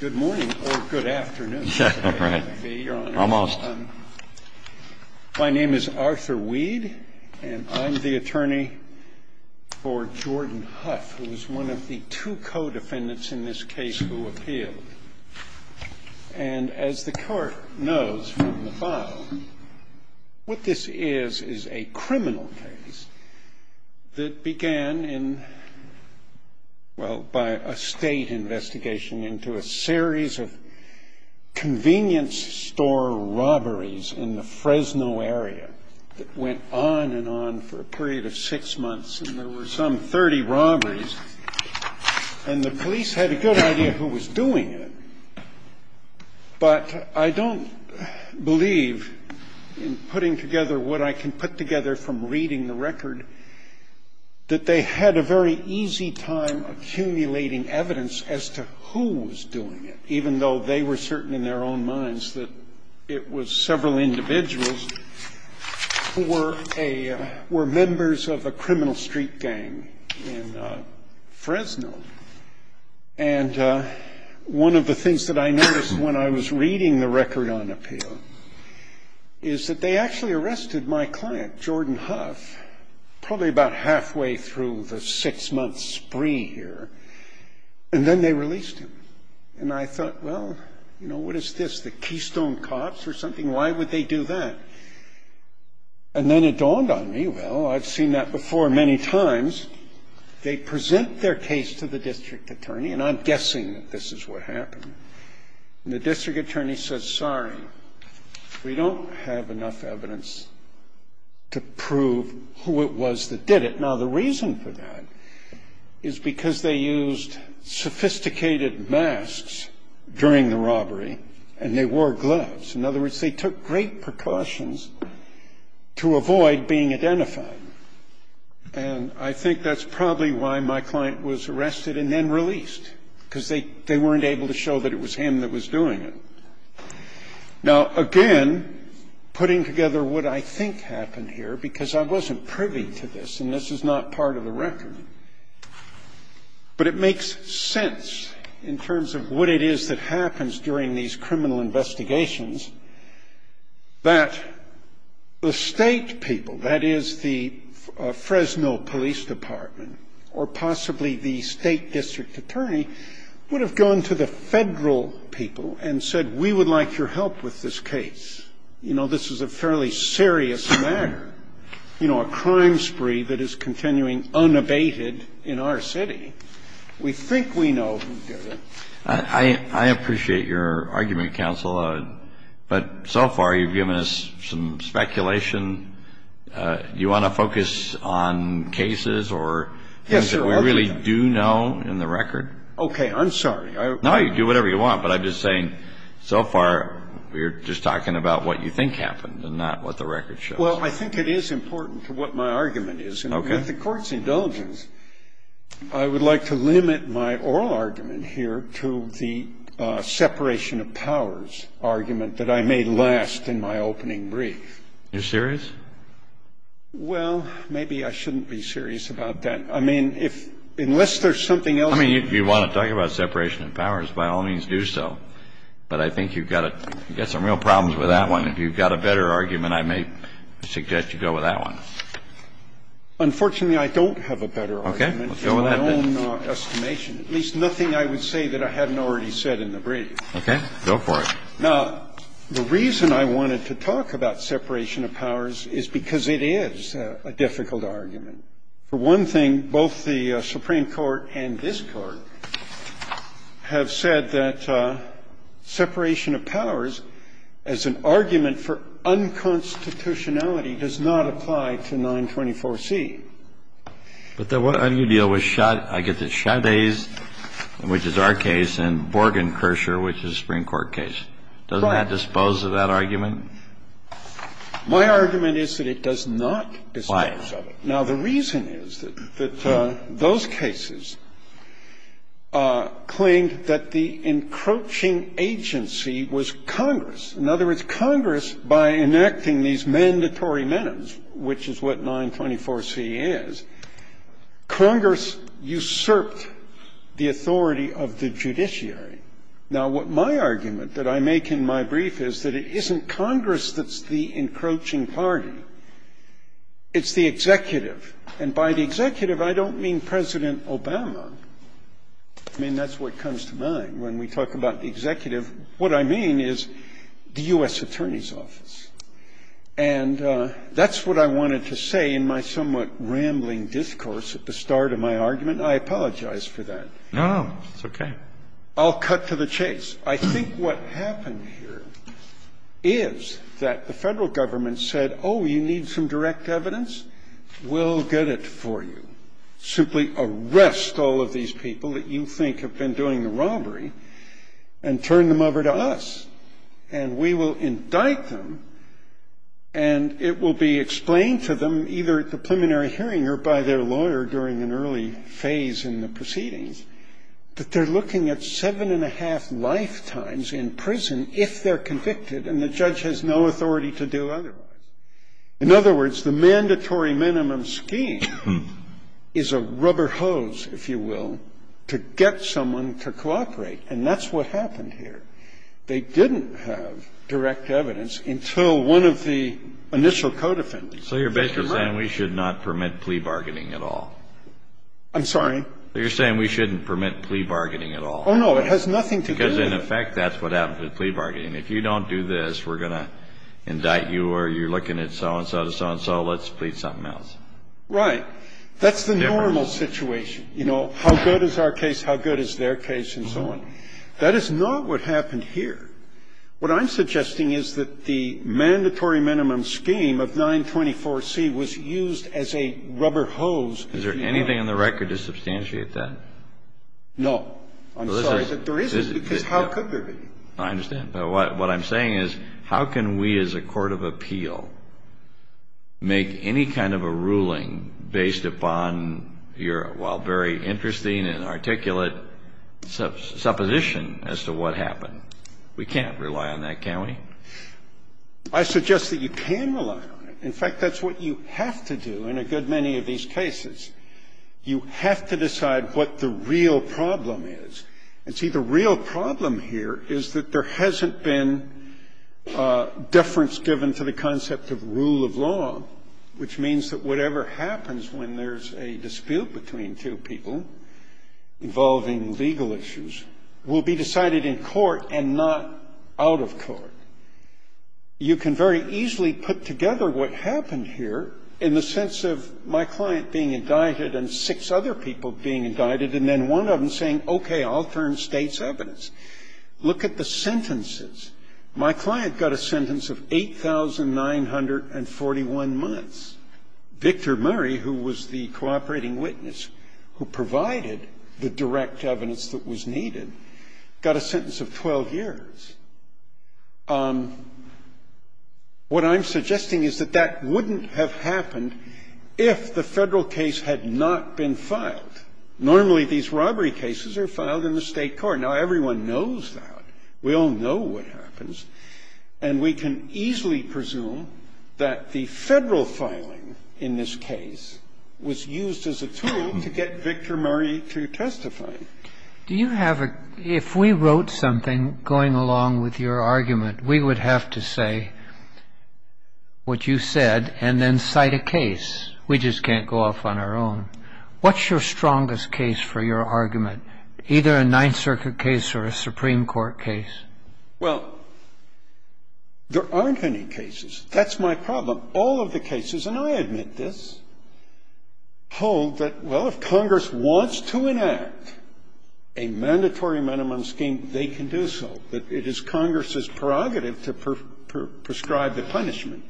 Good morning or good afternoon, Your Honor. My name is Arthur Weed, and I'm the attorney for Jordan Huff, who is one of the two co-defendants in this case who appealed. And as the court knows from the file, what this is is a criminal case that began in, well, by a state investigation into a series of convenience store robberies in the Fresno area that went on and on for a period of six months. And there were some 30 robberies, and the police had a good idea who was doing it. But I don't believe in putting together what I can put together from reading the record that they had a very easy time accumulating evidence as to who was doing it, even though they were certain in their own minds that it was several individuals who were members of a criminal street gang in Fresno. And one of the things that I noticed when I was reading the record on appeal is that they actually arrested my client, Jordan Huff, probably about halfway through the six-month spree here, and then they released him. And I thought, well, you know, what is this, the Keystone Cops or something? Why would they do that? And then it dawned on me, well, I've seen that before many times. They present their case to the district attorney, and I'm guessing that this is what happened. And the district attorney said, sorry, we don't have enough evidence to prove who it was that did it. Now, the reason for that is because they used sophisticated masks during the robbery, and they wore gloves. In other words, they took great precautions to avoid being identified. And I think that's probably why my client was arrested and then released, because they weren't able to show that it was him that was doing it. Now, again, putting together what I think happened here, because I wasn't privy to this, and this is not part of the record, but it makes sense in terms of what it is that happens during these criminal investigations, that the state people, that is, the Fresno Police Department or possibly the state district attorney, would have gone to the federal people and said, we would like your help with this case. You know, this is a fairly serious matter, you know, a crime spree that is continuing unabated in our city. We think we know who did it. I appreciate your argument, counsel, but so far you've given us some speculation. Do you want to focus on cases or things that we really do know in the record? Okay, I'm sorry. No, you can do whatever you want, but I'm just saying so far we're just talking about what you think happened and not what the record shows. Well, I think it is important to what my argument is, and with the Court's indulgence, I would like to limit my oral argument here to the separation of powers argument that I made last in my opening brief. You're serious? Well, maybe I shouldn't be serious about that. I mean, unless there's something else. I mean, you want to talk about separation of powers, by all means do so, but I think you've got some real problems with that one. If you've got a better argument, I may suggest you go with that one. Unfortunately, I don't have a better argument. Okay, let's go with that then. In my own estimation, at least nothing I would say that I hadn't already said in the brief. Okay, go for it. Now, the reason I wanted to talk about separation of powers is because it is a difficult argument. For one thing, both the Supreme Court and this Court have said that separation of powers as an argument for unconstitutionality does not apply to 924C. But then what do you deal with, I guess it's Chavez, which is our case, and Borgenkircher, which is a Supreme Court case. Doesn't that dispose of that argument? My argument is that it does not dispose of it. Now, the reason is that those cases claimed that the encroaching agency was Congress. In other words, Congress, by enacting these mandatory minutes, which is what 924C is, Congress usurped the authority of the judiciary. Now, what my argument that I make in my brief is that it isn't Congress that's the encroaching party, it's the executive. And by the executive, I don't mean President Obama. I mean, that's what comes to mind when we talk about the executive. What I mean is the U.S. Attorney's Office. And that's what I wanted to say in my somewhat rambling discourse at the start of my argument. I apologize for that. I'll cut to the chase. I think what happened here is that the Federal Government said, oh, you need some direct evidence, we'll get it for you. Simply arrest all of these people that you think have been doing the robbery and turn them over to us, and we will indict them, and it will be explained to them either at the preliminary hearing or by their lawyer during an early phase in the proceedings that they're looking at seven and a half lifetimes in prison if they're convicted and the judge has no authority to do otherwise. In other words, the mandatory minimum scheme is a rubber hose, if you will, to get someone to cooperate. And that's what happened here. They didn't have direct evidence until one of the initial code offenders. So you're basically saying we should not permit plea bargaining at all. I'm sorry? You're saying we shouldn't permit plea bargaining at all. Oh, no. It has nothing to do with it. Because, in effect, that's what happens with plea bargaining. If you don't do this, we're going to indict you or you're looking at so and so to so and so, let's plead something else. Right. That's the normal situation. You know, how good is our case, how good is their case, and so on. That is not what happened here. What I'm suggesting is that the mandatory minimum scheme of 924C was used as a rubber hose, if you will. Is there anything in the record to substantiate that? No. I'm sorry, but there isn't, because how could there be? I understand. But what I'm saying is how can we as a court of appeal make any kind of a ruling based upon your, while very interesting and articulate, supposition as to what happened? We can't rely on that, can we? I suggest that you can rely on it. In fact, that's what you have to do in a good many of these cases. You have to decide what the real problem is. And, see, the real problem here is that there hasn't been deference given to the concept of rule of law, which means that whatever happens when there's a dispute between two people involving legal issues will be decided in court and not out of court. You can very easily put together what happened here in the sense of my client being indicted and six other people being indicted, and then one of them saying, okay, I'll turn state's evidence. Look at the sentences. My client got a sentence of 8,941 months. Victor Murray, who was the cooperating witness who provided the direct evidence that was needed, got a sentence of 12 years. What I'm suggesting is that that wouldn't have happened if the federal case had not been filed. Normally, these robbery cases are filed in the state court. Now, everyone knows that. We all know what happens, and we can easily presume that the federal filing in this case was used as a tool to get Victor Murray to testify. If we wrote something going along with your argument, we would have to say what you said and then cite a case. We just can't go off on our own. What's your strongest case for your argument? Either a Ninth Circuit case or a Supreme Court case. Well, there aren't any cases. That's my problem. All of the cases, and I admit this, hold that, well, if Congress wants to enact a mandatory minimum scheme, they can do so, but it is Congress's prerogative to prescribe a punishment.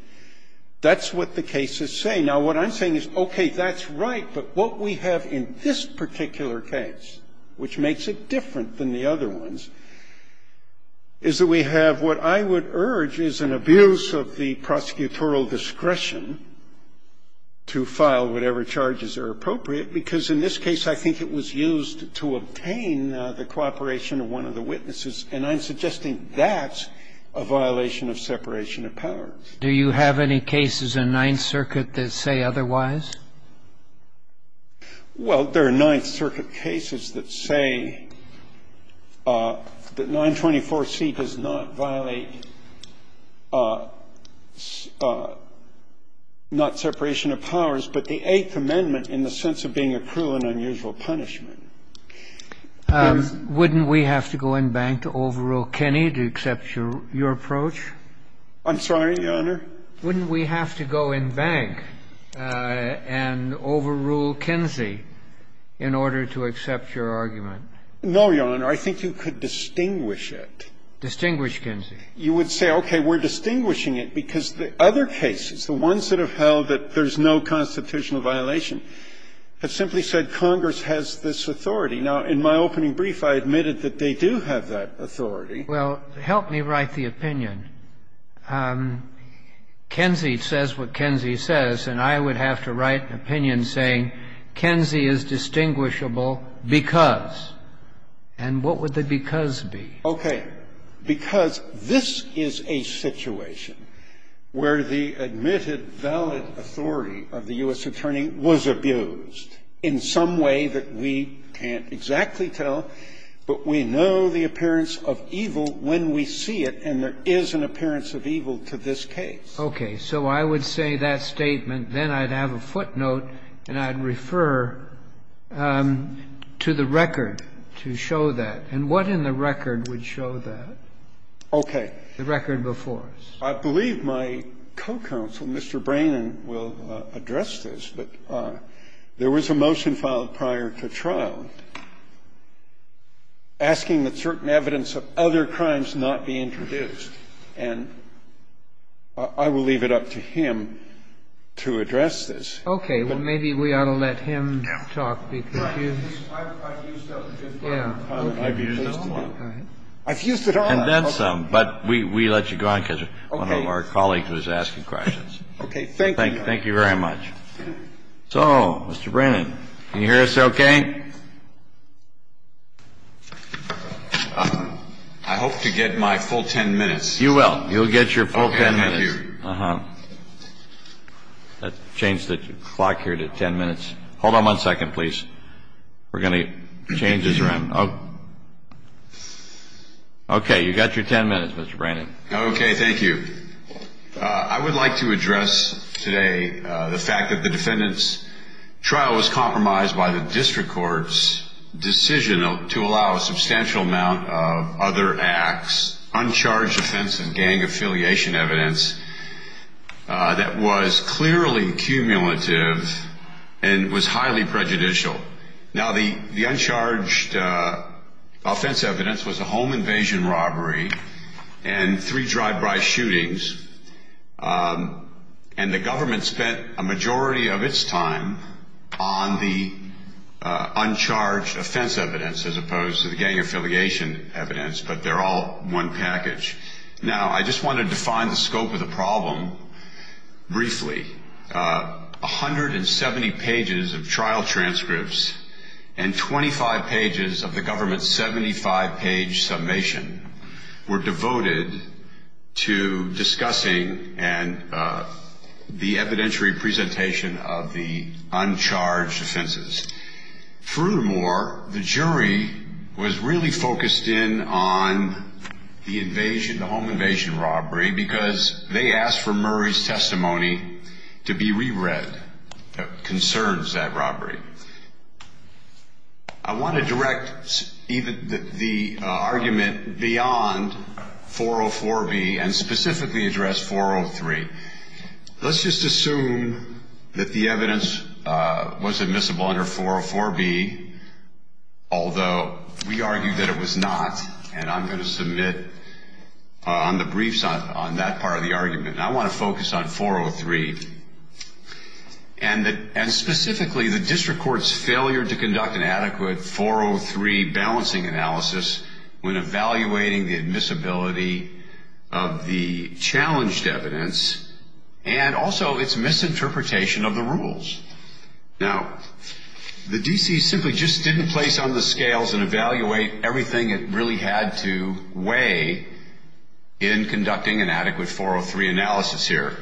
That's what the cases say. Now, what I'm saying is, okay, that's right, but what we have in this particular case, which makes it different than the other ones, is that we have what I would urge is an abuse of the prosecutorial discretion to file whatever charges are appropriate, because in this case I think it was used to obtain the cooperation of one of the witnesses, and I'm suggesting that's a violation of separation of powers. Do you have any cases in Ninth Circuit that say otherwise? Well, there are Ninth Circuit cases that say that 924C does not violate not separation of powers, but the Eighth Amendment in the sense of being a cruel and unusual punishment. Wouldn't we have to go in bank to overrule Kenney to accept your approach? I'm sorry, Your Honor? Wouldn't we have to go in bank and overrule Kinsey in order to accept your argument? No, Your Honor. I think you could distinguish it. Distinguish Kinsey. You would say, okay, we're distinguishing it because the other cases, the ones that have held that there's no constitutional violation, have simply said Congress has this authority. Now, in my opening brief, I admitted that they do have that authority. Well, help me write the opinion. Kinsey says what Kinsey says, and I would have to write an opinion saying Kinsey is distinguishable because. And what would the because be? Okay. Because this is a situation where the admitted valid authority of the U.S. Attorney was abused in some way that we can't exactly tell, but we know the appearance of evil when we see it, and there is an appearance of evil to this case. Okay. So I would say that statement. Then I'd have a footnote, and I'd refer to the record to show that. And what in the record would show that? Okay. The record before us. I believe my co-counsel, Mr. Brannan, will address this, but there was a motion filed prior to trial asking that certain evidence of other crimes not be introduced. And I will leave it up to him to address this. Okay. Well, maybe we ought to let him talk, because you. I've used up a good part of my time. I've used it all up. Go ahead. I've used it all up. And then some. But we let you go on, because one of our colleagues was asking questions. Okay. Thank you. Thank you very much. So, Mr. Brannan, can you hear us okay? I hope to get my full 10 minutes. You will. You'll get your full 10 minutes. Okay. Thank you. Uh-huh. Let's change the clock here to 10 minutes. Hold on one second, please. We're going to change this around. Okay. You've got your 10 minutes, Mr. Brannan. Okay. Thank you. I would like to address today the fact that the defendant's trial was compromised by the district court's decision to allow a substantial amount of other acts, uncharged offense and gang affiliation evidence, that was clearly cumulative and was highly prejudicial. Now, the uncharged offense evidence was a home invasion robbery and three drive-by shootings. And the government spent a majority of its time on the uncharged offense evidence, as opposed to the gang affiliation evidence. But they're all one package. Now, I just want to define the scope of the problem briefly. 170 pages of trial transcripts and 25 pages of the government's 75-page summation were devoted to discussing and the evidentiary presentation of the uncharged offenses. Furthermore, the jury was really focused in on the invasion, the home invasion robbery, because they asked for Murray's testimony to be reread that concerns that robbery. I want to direct the argument beyond 404B and specifically address 403. Let's just assume that the evidence was admissible under 404B, although we argue that it was not. And I'm going to submit on the briefs on that part of the argument. I want to focus on 403. And specifically, the district court's failure to conduct an adequate 403 balancing analysis when evaluating the admissibility of the challenged evidence and also its misinterpretation of the rules. Now, the D.C. simply just didn't place on the scales and evaluate everything it really had to weigh in conducting an adequate 403 analysis here.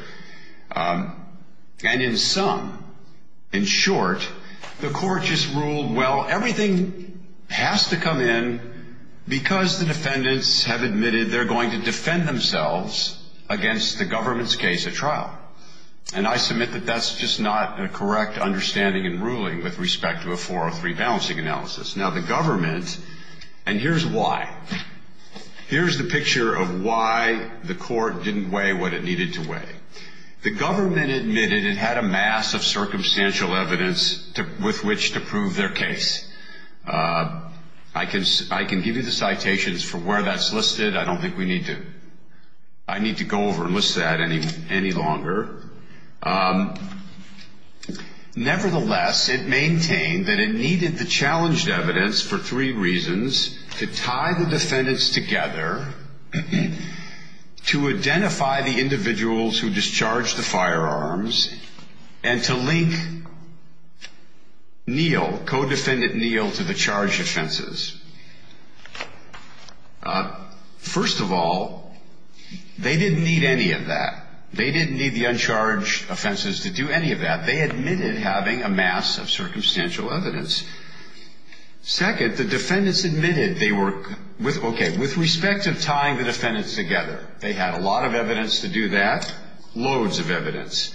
And in sum, in short, the court just ruled, well, everything has to come in because the defendants have admitted they're going to defend themselves against the government's case at trial. And I submit that that's just not a correct understanding and ruling with respect to a 403 balancing analysis. Now, the government, and here's why. Here's the picture of why the court didn't weigh what it needed to weigh. The government admitted it had a mass of circumstantial evidence with which to prove their case. I can give you the citations for where that's listed. I don't think we need to. I need to go over and list that any longer. Nevertheless, it maintained that it needed the challenged evidence for three reasons. To tie the defendants together, to identify the individuals who discharged the firearms, and to link Neal, co-defendant Neal, to the charge offenses. First of all, they didn't need any of that. They didn't need the uncharged offenses to do any of that. They admitted having a mass of circumstantial evidence. Second, the defendants admitted they were, okay, with respect to tying the defendants together, they had a lot of evidence to do that, loads of evidence.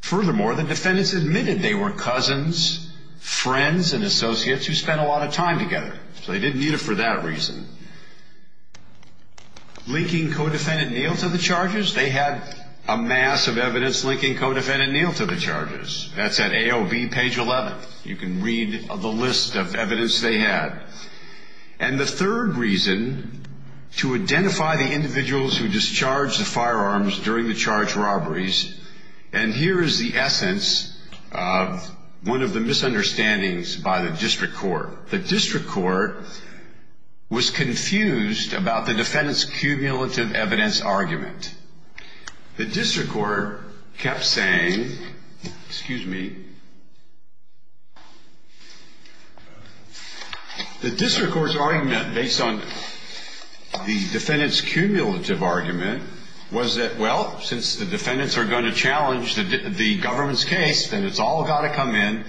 Furthermore, the defendants admitted they were cousins, friends, and associates who spent a lot of time together. So they didn't need it for that reason. Linking co-defendant Neal to the charges, they had a mass of evidence linking co-defendant Neal to the charges. That's at AOB, page 11. You can read the list of evidence they had. And the third reason, to identify the individuals who discharged the firearms during the charged robberies, and here is the essence of one of the misunderstandings by the district court. The district court was confused about the defendants' cumulative evidence argument. The district court kept saying, excuse me, the district court's argument based on the defendants' cumulative argument was that, well, since the defendants are going to challenge the government's case, then it's all got to come in.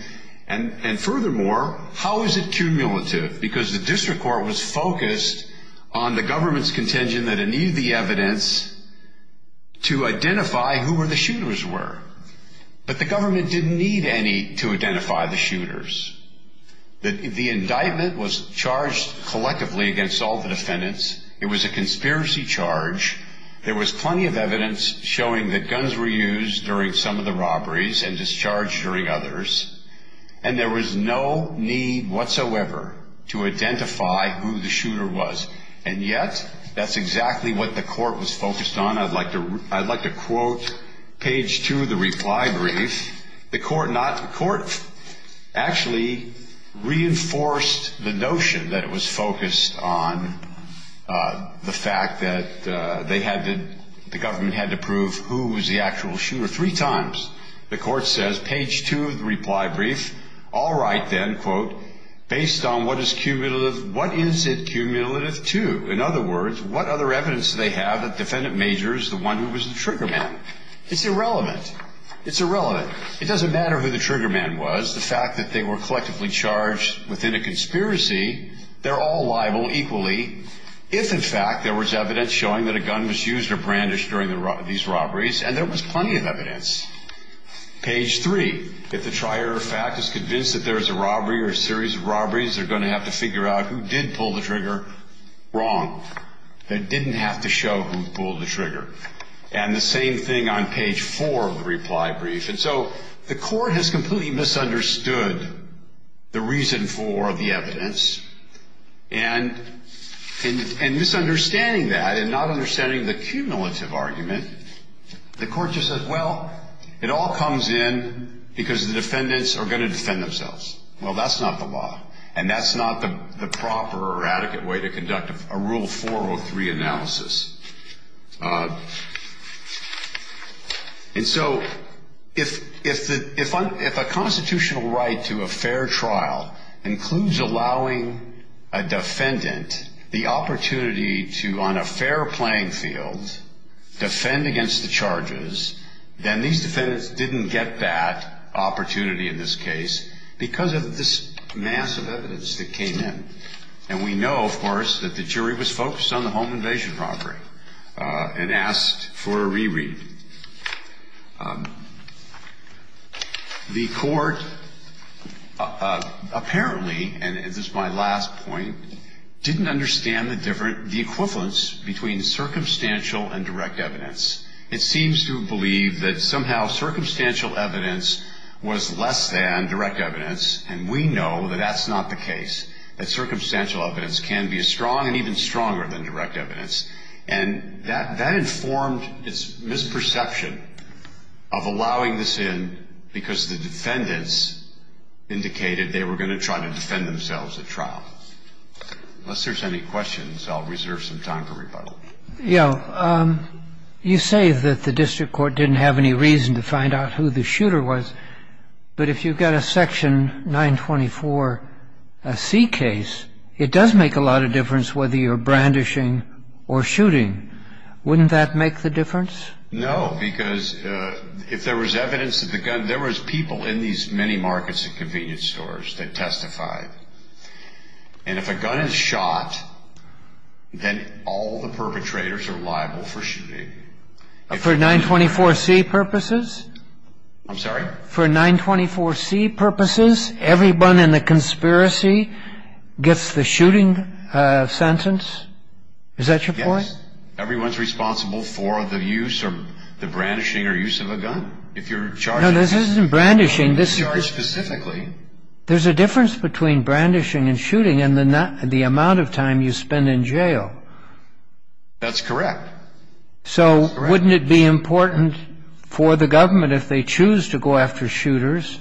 And furthermore, how is it cumulative? Because the district court was focused on the government's contention that it needed the evidence to identify who the shooters were. But the government didn't need any to identify the shooters. The indictment was charged collectively against all the defendants. It was a conspiracy charge. There was plenty of evidence showing that guns were used during some of the robberies and discharged during others. And there was no need whatsoever to identify who the shooter was. And yet, that's exactly what the court was focused on. I'd like to quote page 2 of the reply brief. The court actually reinforced the notion that it was focused on the fact that the government had to prove who was the actual shooter three times. The court says, page 2 of the reply brief, all right then, quote, based on what is cumulative, what is it cumulative to? In other words, what other evidence do they have that defendant major is the one who was the trigger man? It's irrelevant. It's irrelevant. It doesn't matter who the trigger man was. The fact that they were collectively charged within a conspiracy, they're all liable equally. If, in fact, there was evidence showing that a gun was used or brandished during these robberies, and there was plenty of evidence. Page 3, if the trier of fact is convinced that there is a robbery or a series of robberies, they're going to have to figure out who did pull the trigger wrong. They didn't have to show who pulled the trigger. And the same thing on page 4 of the reply brief. And so the court has completely misunderstood the reason for the evidence. And in misunderstanding that and not understanding the cumulative argument, the court just says, well, it all comes in because the defendants are going to defend themselves. Well, that's not the law. And that's not the proper or adequate way to conduct a Rule 403 analysis. And so if a constitutional right to a fair trial includes allowing a defendant the opportunity to, on a fair playing field, defend against the charges, then these defendants didn't get that opportunity in this case because of this mass of evidence that came in. And we know, of course, that the jury was focused on the home invasion robbery and asked for a reread. The court apparently, and this is my last point, didn't understand the equivalence between circumstantial and direct evidence. It seems to believe that somehow circumstantial evidence was less than direct evidence, and we know that that's not the case. That circumstantial evidence can be as strong and even stronger than direct evidence. And that informed its misperception of allowing this in because the defendants indicated they were going to try to defend themselves at trial. Unless there's any questions, I'll reserve some time for rebuttal. Yeah. You say that the district court didn't have any reason to find out who the shooter was. But if you've got a Section 924C case, it does make a lot of difference whether you're brandishing or shooting. Wouldn't that make the difference? No, because if there was evidence of the gun, there was people in these many markets and convenience stores that testified. And if a gun is shot, then all the perpetrators are liable for shooting. For 924C purposes? I'm sorry? For 924C purposes, everyone in the conspiracy gets the shooting sentence? Is that your point? Yes. Everyone's responsible for the use or the brandishing or use of a gun. No, this isn't brandishing. There's a difference between brandishing and shooting in the amount of time you spend in jail. That's correct. So wouldn't it be important for the government, if they choose to go after shooters,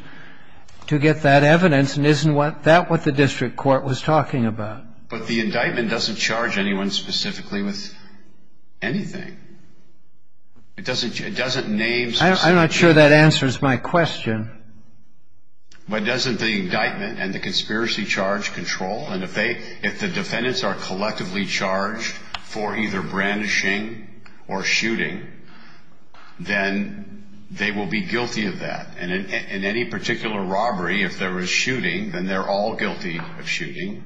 to get that evidence? And isn't that what the district court was talking about? But the indictment doesn't charge anyone specifically with anything. It doesn't name specific people. I'm not sure that answers my question. But doesn't the indictment and the conspiracy charge control? And if the defendants are collectively charged for either brandishing or shooting, then they will be guilty of that. And in any particular robbery, if there was shooting, then they're all guilty of shooting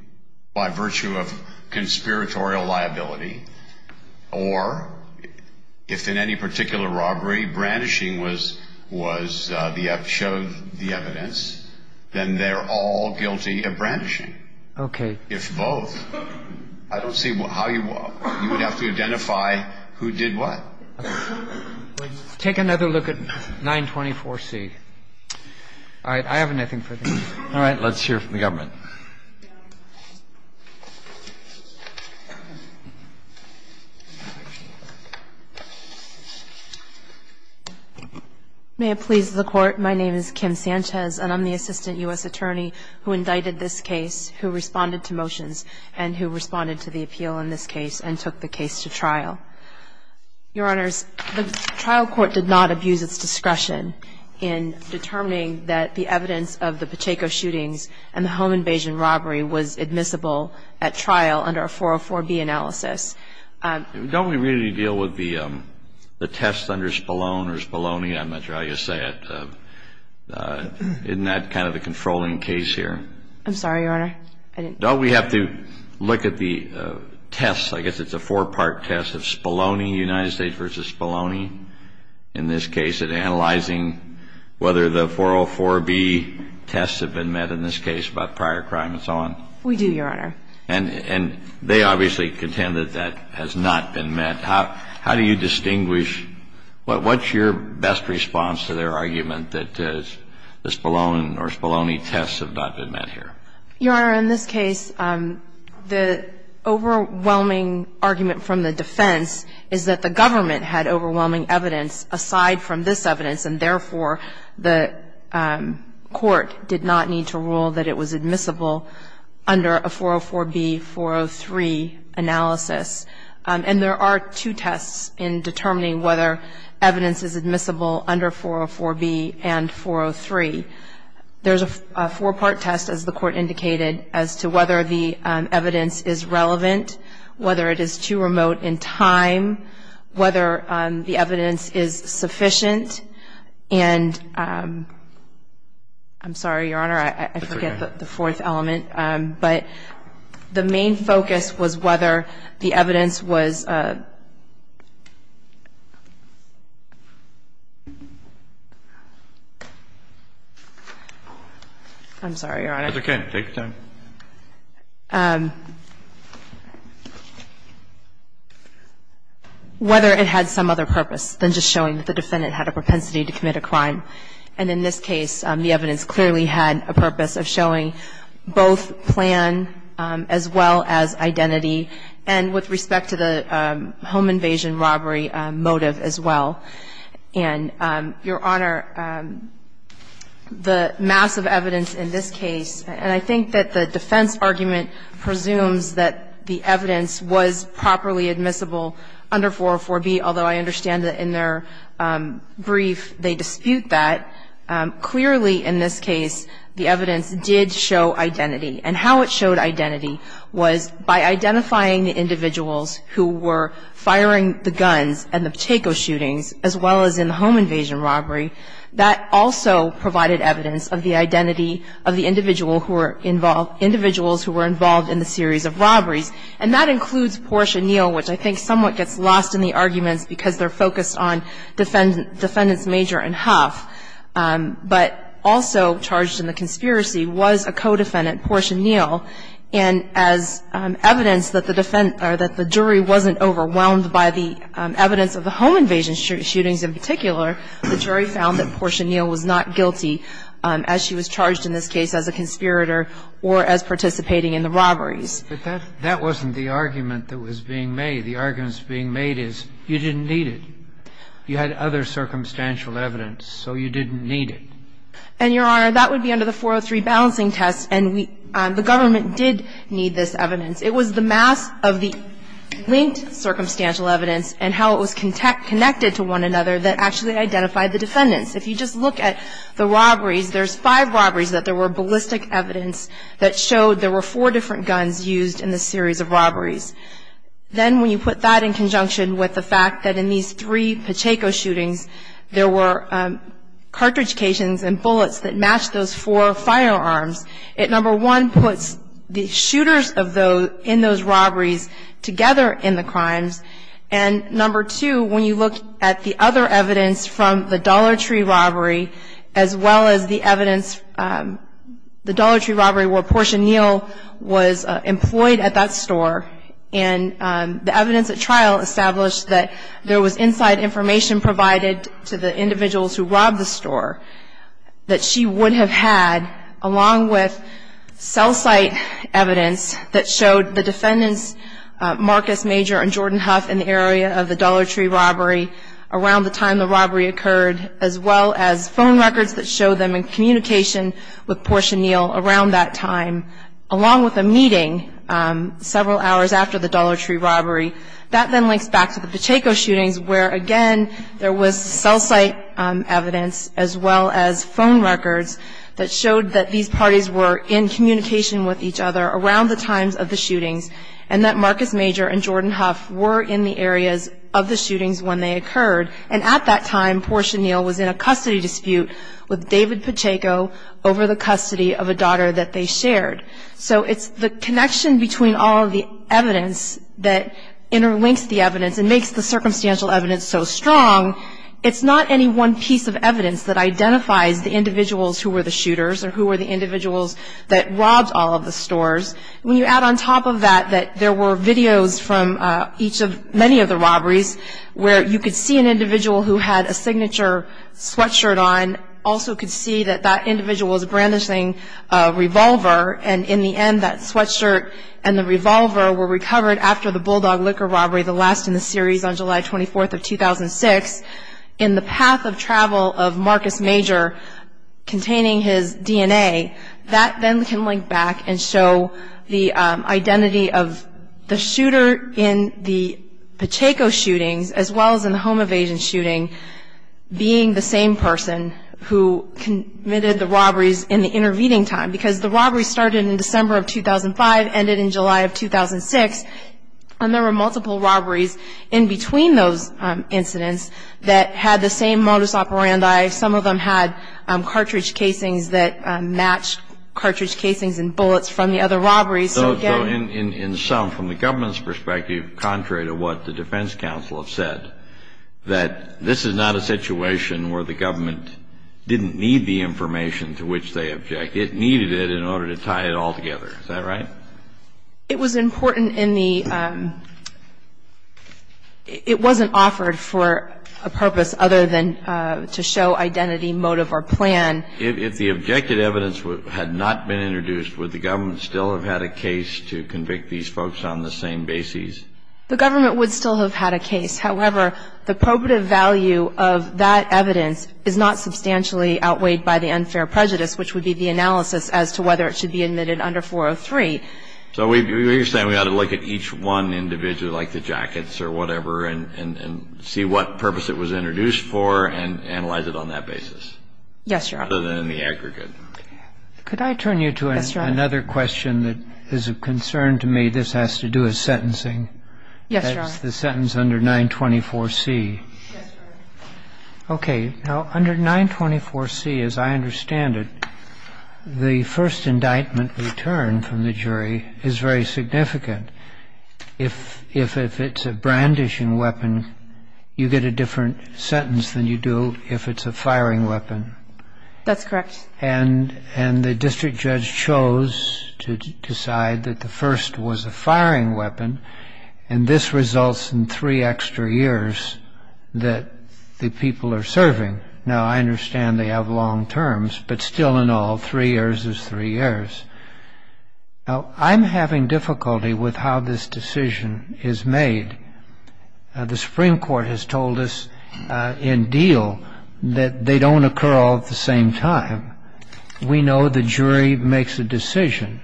by virtue of conspiratorial liability. Or if in any particular robbery brandishing was the evidence, then they're all guilty of brandishing. Okay. If both. I don't see how you would have to identify who did what. Take another look at 924C. All right. I have nothing for you. All right. Let's hear from the government. May it please the Court, my name is Kim Sanchez, and I'm the assistant U.S. attorney who indicted this case, who responded to motions, and who responded to the appeal in this case and took the case to trial. Your Honors, the trial court did not abuse its discretion in determining that the evidence of the Pacheco shootings and the home invasions were not true. The trial court did not abuse its discretion in determining that the evidence of the Pacheco shootings and the home invasion robbery was admissible at trial under a 404B analysis. Don't we really deal with the tests under Spallone or Spalloni? I'm not sure how you say it. Isn't that kind of a controlling case here? I'm sorry, Your Honor. Don't we have to look at the tests? I guess it's a four-part test of Spalloni, United States v. Spalloni, in this case, and analyzing whether the 404B tests have been met in this case about prior crime and so on? We do, Your Honor. And they obviously contend that that has not been met. How do you distinguish? What's your best response to their argument that the Spallone or Spalloni tests have not been met here? Your Honor, in this case, the overwhelming argument from the defense is that the government had overwhelming evidence aside from this evidence, and therefore, the court did not need to rule that it was admissible under a 404B, 403 analysis. And there are two tests in determining whether evidence is admissible under 404B and 403. There's a four-part test, as the court indicated, as to whether the evidence is relevant, whether it is too remote in time, whether the evidence is sufficient. And I'm sorry, Your Honor, I forget the fourth element. But the main focus was whether the evidence was ---- I'm sorry, Your Honor. It's okay. Take your time. Whether it had some other purpose than just showing that the defendant had a propensity to commit a crime. And in this case, the evidence clearly had a purpose of showing both plan as well as identity and with respect to the home invasion robbery motive as well. And, Your Honor, the massive evidence in this case, and I think that the defense argument presumes that the evidence was properly admissible under 404B, although I understand that in their brief they dispute that, clearly in this case the evidence did show identity. And how it showed identity was by identifying the individuals who were firing the guns and the Pacheco shootings as well as in the home invasion robbery. That also provided evidence of the identity of the individual who were involved ---- individuals who were involved in the series of robberies. And that includes Portia Neal, which I think somewhat gets lost in the arguments because they're focused on defendants Major and Huff. But also charged in the conspiracy was a co-defendant, Portia Neal. And as evidence that the defense or that the jury wasn't overwhelmed by the evidence of the home invasion shootings in particular, the jury found that Portia Neal was not guilty as she was charged in this case as a conspirator or as participating in the robberies. But that wasn't the argument that was being made. The argument that's being made is you didn't need it. You had other circumstantial evidence, so you didn't need it. And, Your Honor, that would be under the 403 balancing test. And the government did need this evidence. It was the mass of the linked circumstantial evidence and how it was connected to one another that actually identified the defendants. If you just look at the robberies, there's five robberies that there were ballistic evidence that showed there were four different guns used in the series of robberies. Then when you put that in conjunction with the fact that in these three Pacheco shootings there were cartridge cations and bullets that matched those four firearms, it, number one, puts the shooters in those robberies together in the crimes. And, number two, when you look at the other evidence from the Dollar Tree robbery as well as the evidence, the Dollar Tree robbery where Portia Neal was employed at that store, and the evidence at trial established that there was inside information provided to the individuals who robbed the store that she would have had along with cell site evidence that showed the defendants, Marcus Major and Jordan Huff, in the area of the Dollar Tree robbery around the time the robbery occurred as well as phone records that show them in communication with Portia Neal around that time, along with a meeting several hours after the Dollar Tree robbery. That then links back to the Pacheco shootings where, again, there was cell site evidence as well as phone records that showed that these parties were in communication with each other around the times of the shootings and that Marcus Major and Jordan Huff were in the areas of the shootings when they occurred. And at that time, Portia Neal was in a custody dispute with David Pacheco over the custody of a daughter that they shared. So it's the connection between all of the evidence that interlinks the evidence and makes the circumstantial evidence so strong. It's not any one piece of evidence that identifies the individuals who were the shooters or who were the individuals that robbed all of the stores. When you add on top of that that there were videos from each of many of the robberies where you could see an individual who had a signature sweatshirt on, also could see that that individual was brandishing a revolver, and in the end that sweatshirt and the revolver were recovered after the Bulldog liquor robbery, the last in the series on July 24th of 2006, in the path of travel of Marcus Major containing his DNA. That then can link back and show the identity of the shooter in the Pacheco shootings as well as in the home evasion shooting being the same person who committed the robberies in the intervening time. Because the robberies started in December of 2005, ended in July of 2006, and there were multiple robberies in between those incidents that had the same modus operandi. So, again, I'm not going to go into the specifics of what happened in those robberies. I'm just going to point out that some of those robberies, some of them had bullet casings that matched cartridge casings and bullets from the other robberies. So, again – So, in sum, from the government's perspective, contrary to what the defense counsel have said, that this is not a situation where the government didn't need the information to which they object. It needed it in order to tie it all together. Is that right? It was important in the – it wasn't offered for a purpose other than to show identity, motive, or plan. If the objective evidence had not been introduced, would the government still have had a case to convict these folks on the same basis? The government would still have had a case. However, the probative value of that evidence is not substantially outweighed by the unfair prejudice, which would be the analysis as to whether it should be admitted under 403. So you're saying we ought to look at each one individually, like the jackets or whatever, and see what purpose it was introduced for and analyze it on that basis? Yes, Your Honor. Other than the aggregate. Could I turn you to another question that is of concern to me? This has to do with sentencing. Yes, Your Honor. That's the sentence under 924C. Yes, Your Honor. Okay. Now, under 924C, as I understand it, the first indictment returned from the jury is very significant. If it's a brandishing weapon, you get a different sentence than you do if it's a firing weapon. That's correct. And the district judge chose to decide that the first was a firing weapon, and this results in three extra years that the people are serving. Now, I understand they have long terms, but still in all, three years is three years. Now, I'm having difficulty with how this decision is made. The Supreme Court has told us in deal that they don't occur all at the same time. We know the jury makes a decision.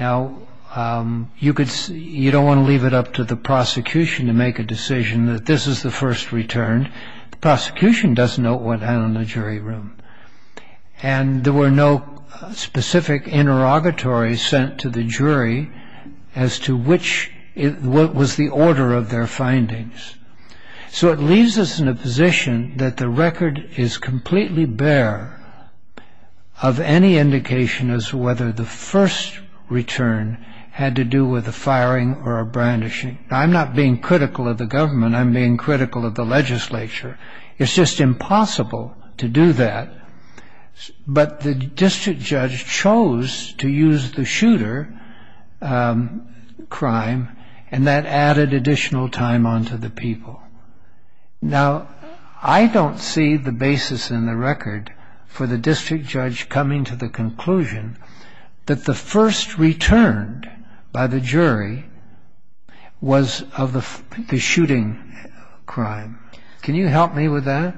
Now, you don't want to leave it up to the prosecution to make a decision that this is the first return. The prosecution doesn't know what happened in the jury room. And there were no specific interrogatories sent to the jury as to what was the order of their findings. So it leaves us in a position that the record is completely bare of any indication as to whether the first return had to do with a firing or a brandishing. Now, I'm not being critical of the government. I'm being critical of the legislature. It's just impossible to do that. But the district judge chose to use the shooter crime, and that added additional time onto the people. Now, I don't see the basis in the record for the district judge coming to the conclusion that the first return by the jury was of the shooting crime. Can you help me with that?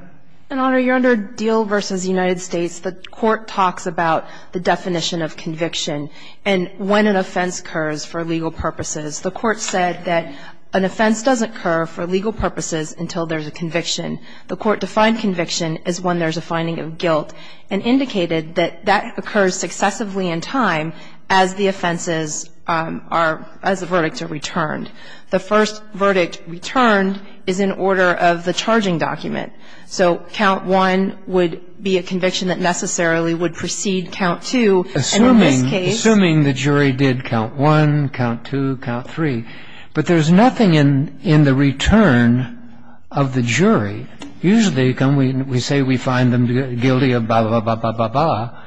An honor, you're under Deal v. United States. The court talks about the definition of conviction and when an offense occurs for legal purposes. The court said that an offense doesn't occur for legal purposes until there's a conviction. The court defined conviction as when there's a finding of guilt and indicated that that occurs successively in time as the offenses are, as the verdicts are returned. The first verdict returned is in order of the charging document. So count one would be a conviction that necessarily would precede count two. And in this case. Assuming the jury did count one, count two, count three. But there's nothing in the return of the jury. Usually we say we find them guilty of blah, blah, blah, blah, blah, blah.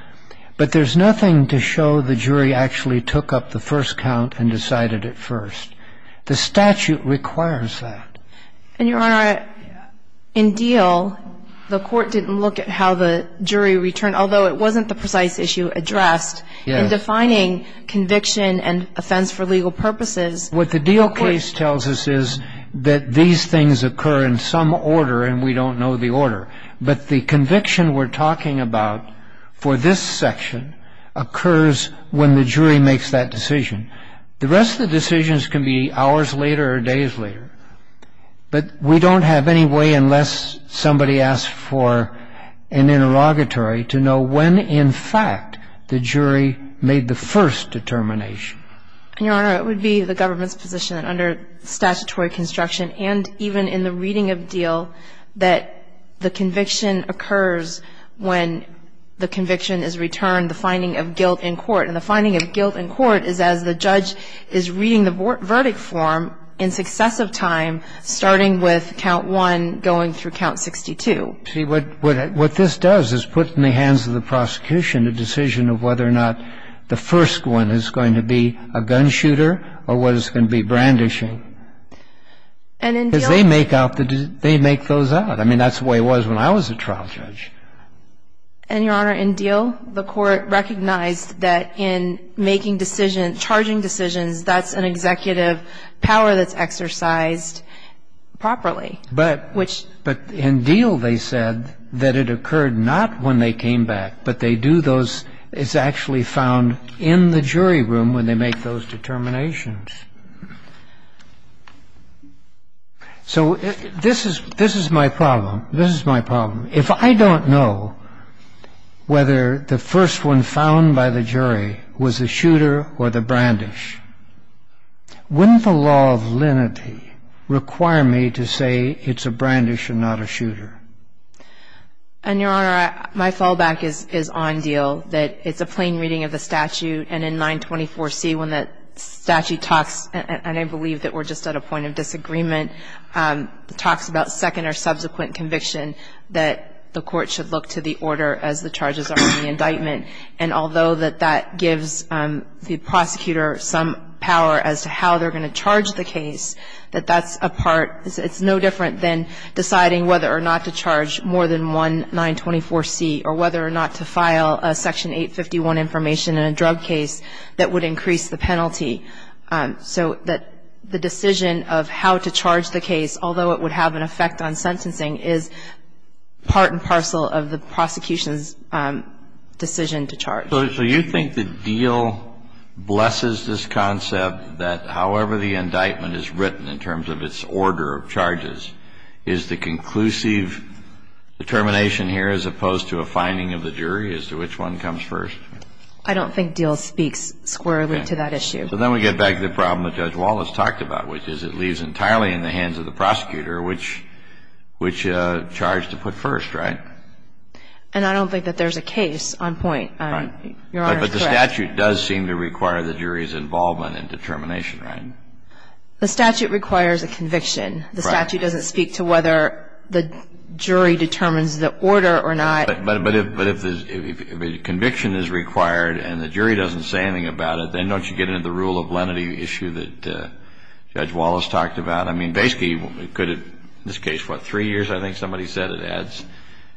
But there's nothing to show the jury actually took up the first count and decided it first. The statute requires that. And, Your Honor, in Deal, the court didn't look at how the jury returned, although it wasn't the precise issue addressed in defining conviction and offense for legal purposes. What the Deal case tells us is that these things occur in some order and we don't know the order. But the conviction we're talking about for this section occurs when the jury makes that decision. The rest of the decisions can be hours later or days later. But we don't have any way, unless somebody asks for an interrogatory, to know when, in fact, the jury made the first determination. And, Your Honor, it would be the government's position that under statutory construction and even in the reading of Deal that the conviction occurs when the conviction is returned, the finding of guilt in court. And the finding of guilt in court is as the judge is reading the verdict form in successive time, starting with count one, going through count 62. See, what this does is put in the hands of the prosecution a decision of whether or not the first one is going to be a gun shooter or whether it's going to be brandishing. And in Deal... Because they make those out. I mean, that's the way it was when I was a trial judge. And, Your Honor, in Deal, the court recognized that in making decisions, charging decisions, that's an executive power that's exercised properly. But in Deal, they said that it occurred not when they came back, but they do those as actually found in the jury room when they make those determinations. So this is my problem. This is my problem. If I don't know whether the first one found by the jury was a shooter or the brandish, wouldn't the law of lenity require me to say it's a brandish and not a shooter? And, Your Honor, my fallback is on Deal, that it's a plain reading of the statute. And in 924C, when the statute talks, and I believe that we're just at a point of disagreement, talks about second or subsequent conviction, that the court should look to the order as the charges are in the indictment. And although that that gives the prosecutor some power as to how they're going to charge the case, that that's a part. It's no different than deciding whether or not to charge more than one 924C or whether or not to file a Section 851 information in a drug case that would increase the penalty. So that the decision of how to charge the case, although it would have an effect on sentencing, is part and parcel of the prosecution's decision to charge. So you think that Deal blesses this concept that however the indictment is written in terms of its order of charges, is the conclusive determination here as opposed to a finding of the jury as to which one comes first? I don't think Deal speaks squarely to that issue. So then we get back to the problem that Judge Wallace talked about, which is it leaves entirely in the hands of the prosecutor which charge to put first, right? And I don't think that there's a case on point. Right. Your Honor is correct. But the statute does seem to require the jury's involvement in determination, right? The statute requires a conviction. Right. The statute doesn't speak to whether the jury determines the order or not. But if a conviction is required and the jury doesn't say anything about it, then don't you get into the rule of lenity issue that Judge Wallace talked about? I mean, basically it could have, in this case, what, three years? I think somebody said it adds.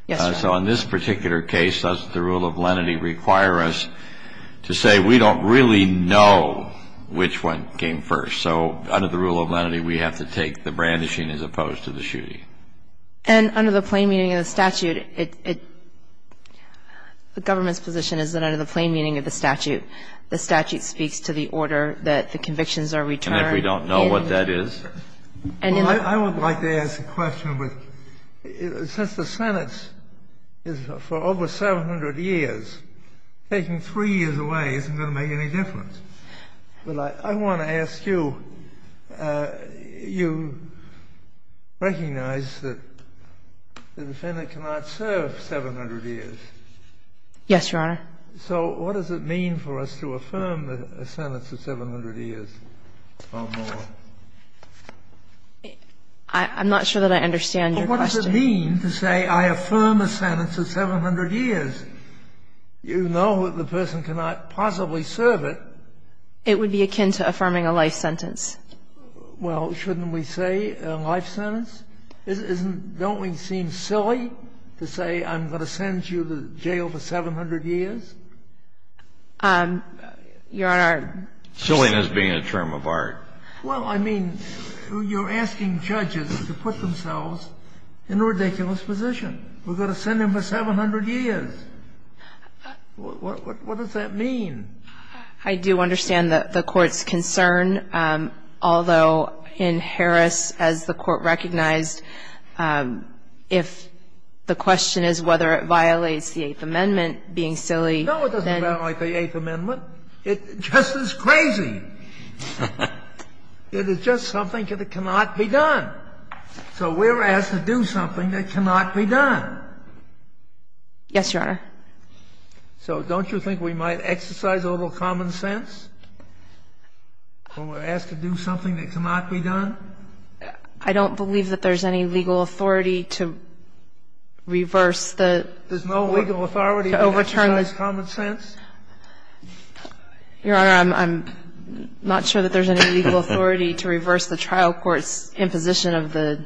Yes, Your Honor. So in this particular case, the rule of lenity requires us to say we don't really know which one came first. So under the rule of lenity, we have to take the brandishing as opposed to the shooting. And under the plain meaning of the statute, the government's position is that under the plain meaning of the statute, the statute speaks to the order that the convictions are returned. And if we don't know what that is? I would like to ask a question. Since the Senate is for over 700 years, taking three years away isn't going to make any difference. But I want to ask you, you recognize that the defendant cannot serve 700 years. Yes, Your Honor. So what does it mean for us to affirm a sentence of 700 years or more? I'm not sure that I understand your question. What does it mean to say I affirm a sentence of 700 years? You know that the person cannot possibly serve it. It would be akin to affirming a life sentence. Well, shouldn't we say a life sentence? Don't we seem silly to say I'm going to send you to jail for 700 years? Your Honor. Silliness being a term of art. Well, I mean, you're asking judges to put themselves in a ridiculous position. We're going to send him for 700 years. What does that mean? I do understand the Court's concern, although in Harris, as the Court recognized, if the question is whether it violates the Eighth Amendment, being silly. No, it doesn't violate the Eighth Amendment. It just is crazy. It is just something that cannot be done. So we're asked to do something that cannot be done. Yes, Your Honor. So don't you think we might exercise a little common sense when we're asked to do something that cannot be done? I don't believe that there's any legal authority to reverse the court to overturn it. There's no legal authority to exercise common sense? Your Honor, I'm not sure that there's any legal authority to reverse the trial court's imposition of the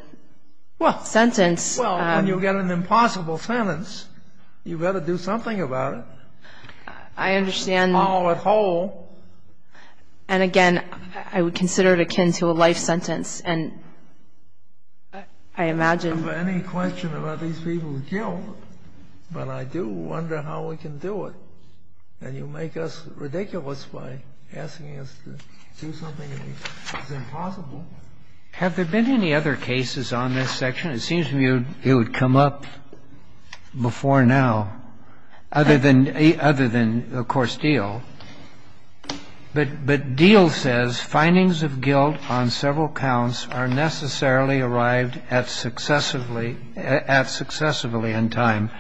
sentence. Well, when you get an impossible sentence, you better do something about it. I understand. All at whole. And, again, I would consider it akin to a life sentence, and I imagine... And you make us ridiculous by asking us to do something that is impossible. Have there been any other cases on this section? It seems to me it would come up before now, other than, of course, Diehl. But Diehl says findings of guilt on several counts are necessarily arrived at successively in time.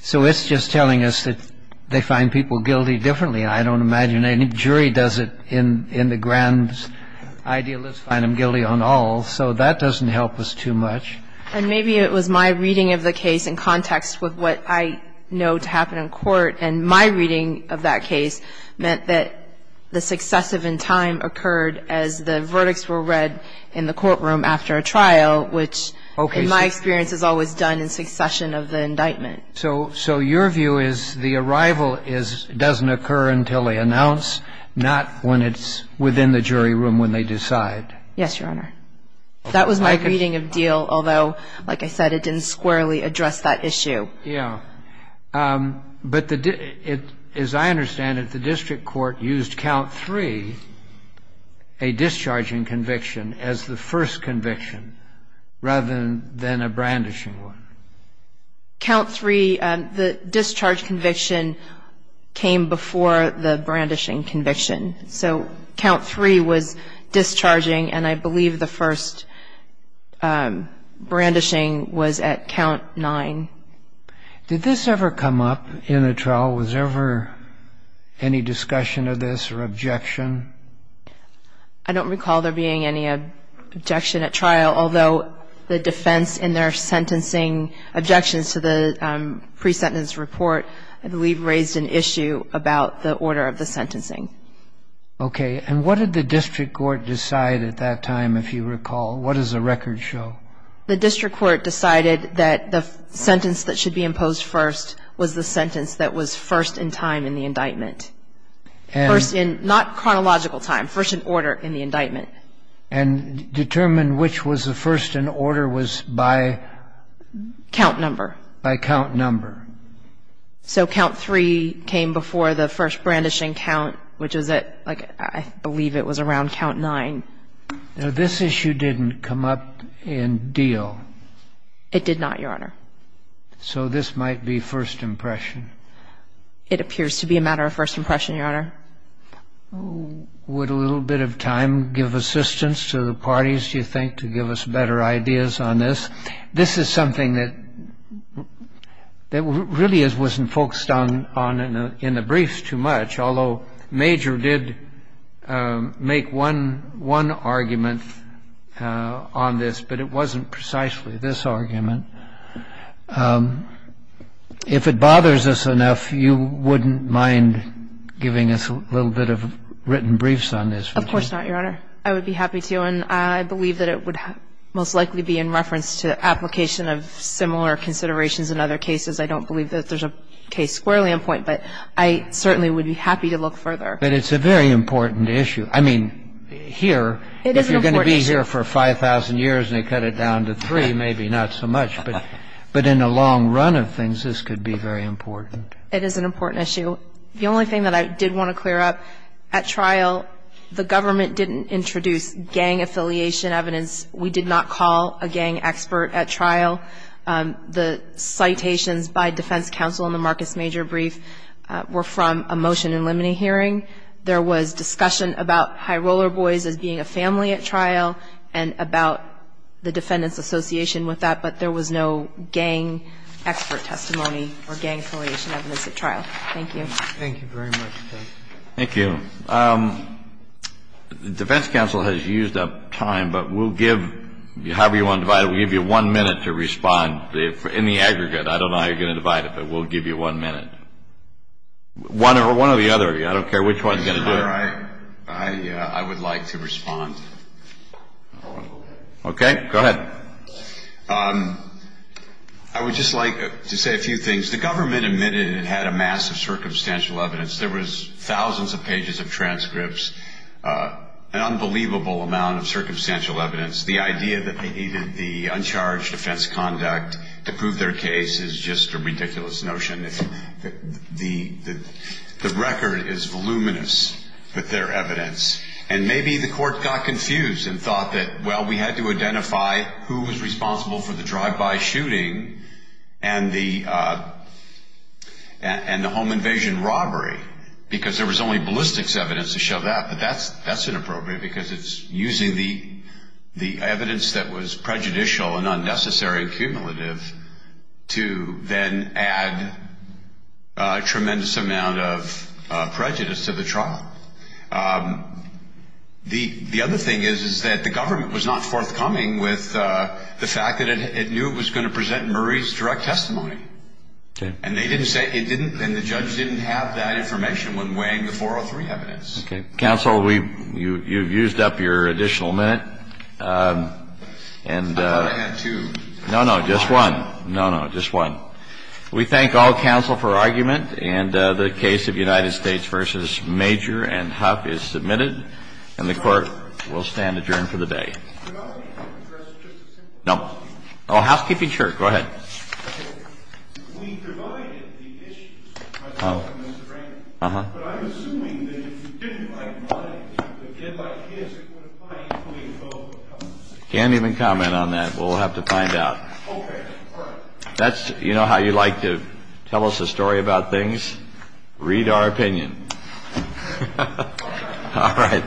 So it's just telling us that they find people guilty differently. I don't imagine any jury does it in the grand idealist, find them guilty on all. So that doesn't help us too much. And maybe it was my reading of the case in context with what I know to happen in court. And my reading of that case meant that the successive in time occurred as the verdicts were read in the courtroom after a trial, which, in my experience, is always done in succession of the indictment. So your view is the arrival doesn't occur until they announce, not when it's within the jury room when they decide? Yes, Your Honor. That was my reading of Diehl, although, like I said, it didn't squarely address that issue. Yeah. But as I understand it, the district court used count three, a discharging conviction, as the first conviction rather than a brandishing one. Count three, the discharge conviction came before the brandishing conviction. So count three was discharging, and I believe the first brandishing was at count nine. Did this ever come up in a trial? Was there ever any discussion of this or objection? I don't recall there being any objection at trial, although the defense in their sentencing objections to the pre-sentence report, I believe, raised an issue about the order of the sentencing. Okay. And what did the district court decide at that time, if you recall? What does the record show? The district court decided that the sentence that should be imposed first was the sentence that was first in time in the indictment. First in, not chronological time, first in order in the indictment. And determined which was the first in order was by? Count number. By count number. So count three came before the first brandishing count, which was at, I believe it was around count nine. Now, this issue didn't come up in deal. It did not, Your Honor. So this might be first impression. It appears to be a matter of first impression, Your Honor. Would a little bit of time give assistance to the parties, do you think, to give us better ideas on this? This is something that really wasn't focused on in the briefs too much, although Major did make one argument on this, but it wasn't precisely this argument. If it bothers us enough, you wouldn't mind giving us a little bit of written briefs on this? Of course not, Your Honor. I would be happy to. And I believe that it would most likely be in reference to application of similar considerations in other cases. I don't believe that there's a case squarely in point, but I certainly would be happy to look further. But it's a very important issue. I mean, here, if you're going to be here for 5,000 years and they cut it down to three, maybe not so much. But in the long run of things, this could be very important. It is an important issue. The only thing that I did want to clear up, at trial the government didn't introduce gang affiliation evidence. We did not call a gang expert at trial. The citations by defense counsel in the Marcus Major brief were from a motion in limine hearing. There was discussion about High Roller Boys as being a family at trial and about the defendant's association with that, but there was no gang expert testimony or gang affiliation evidence at trial. Thank you. Thank you very much. Thank you. The defense counsel has used up time, but we'll give you however you want to divide it. We'll give you one minute to respond. In the aggregate, I don't know how you're going to divide it, but we'll give you one minute. One or the other. I don't care which one you're going to do. I would like to respond. Okay. Go ahead. I would just like to say a few things. The government admitted it had a mass of circumstantial evidence. There was thousands of pages of transcripts, an unbelievable amount of circumstantial evidence. The idea that they needed the uncharged defense conduct to prove their case is just a ridiculous notion. The record is voluminous with their evidence, and maybe the court got confused and thought that, well, we had to identify who was responsible for the drive-by shooting and the home invasion robbery because there was only ballistics evidence to show that, but that's inappropriate because it's using the evidence that was prejudicial and unnecessary and cumulative to then add a tremendous amount of prejudice to the trial. The other thing is that the government was not forthcoming with the fact that it knew it was going to present Murray's direct testimony, and the judge didn't have that information when weighing the 403 evidence. Okay. Counsel, you've used up your additional minute. I had two. No, no. Just one. No, no. Just one. We thank all counsel for argument, and the case of United States v. Major and Huff is submitted, and the Court will stand adjourned for the day. Can I ask a question? No. Oh, housekeeping, sure. Go ahead. Okay. We provided the issues by talking to Mr. Rankin, but I'm assuming that if you didn't like mine, if you didn't like his, it would apply equally to both of them. I can't even comment on that. We'll have to find out. Okay. All right. You know how you like to tell us a story about things? All right. All right. Thank you. Thank you, guys.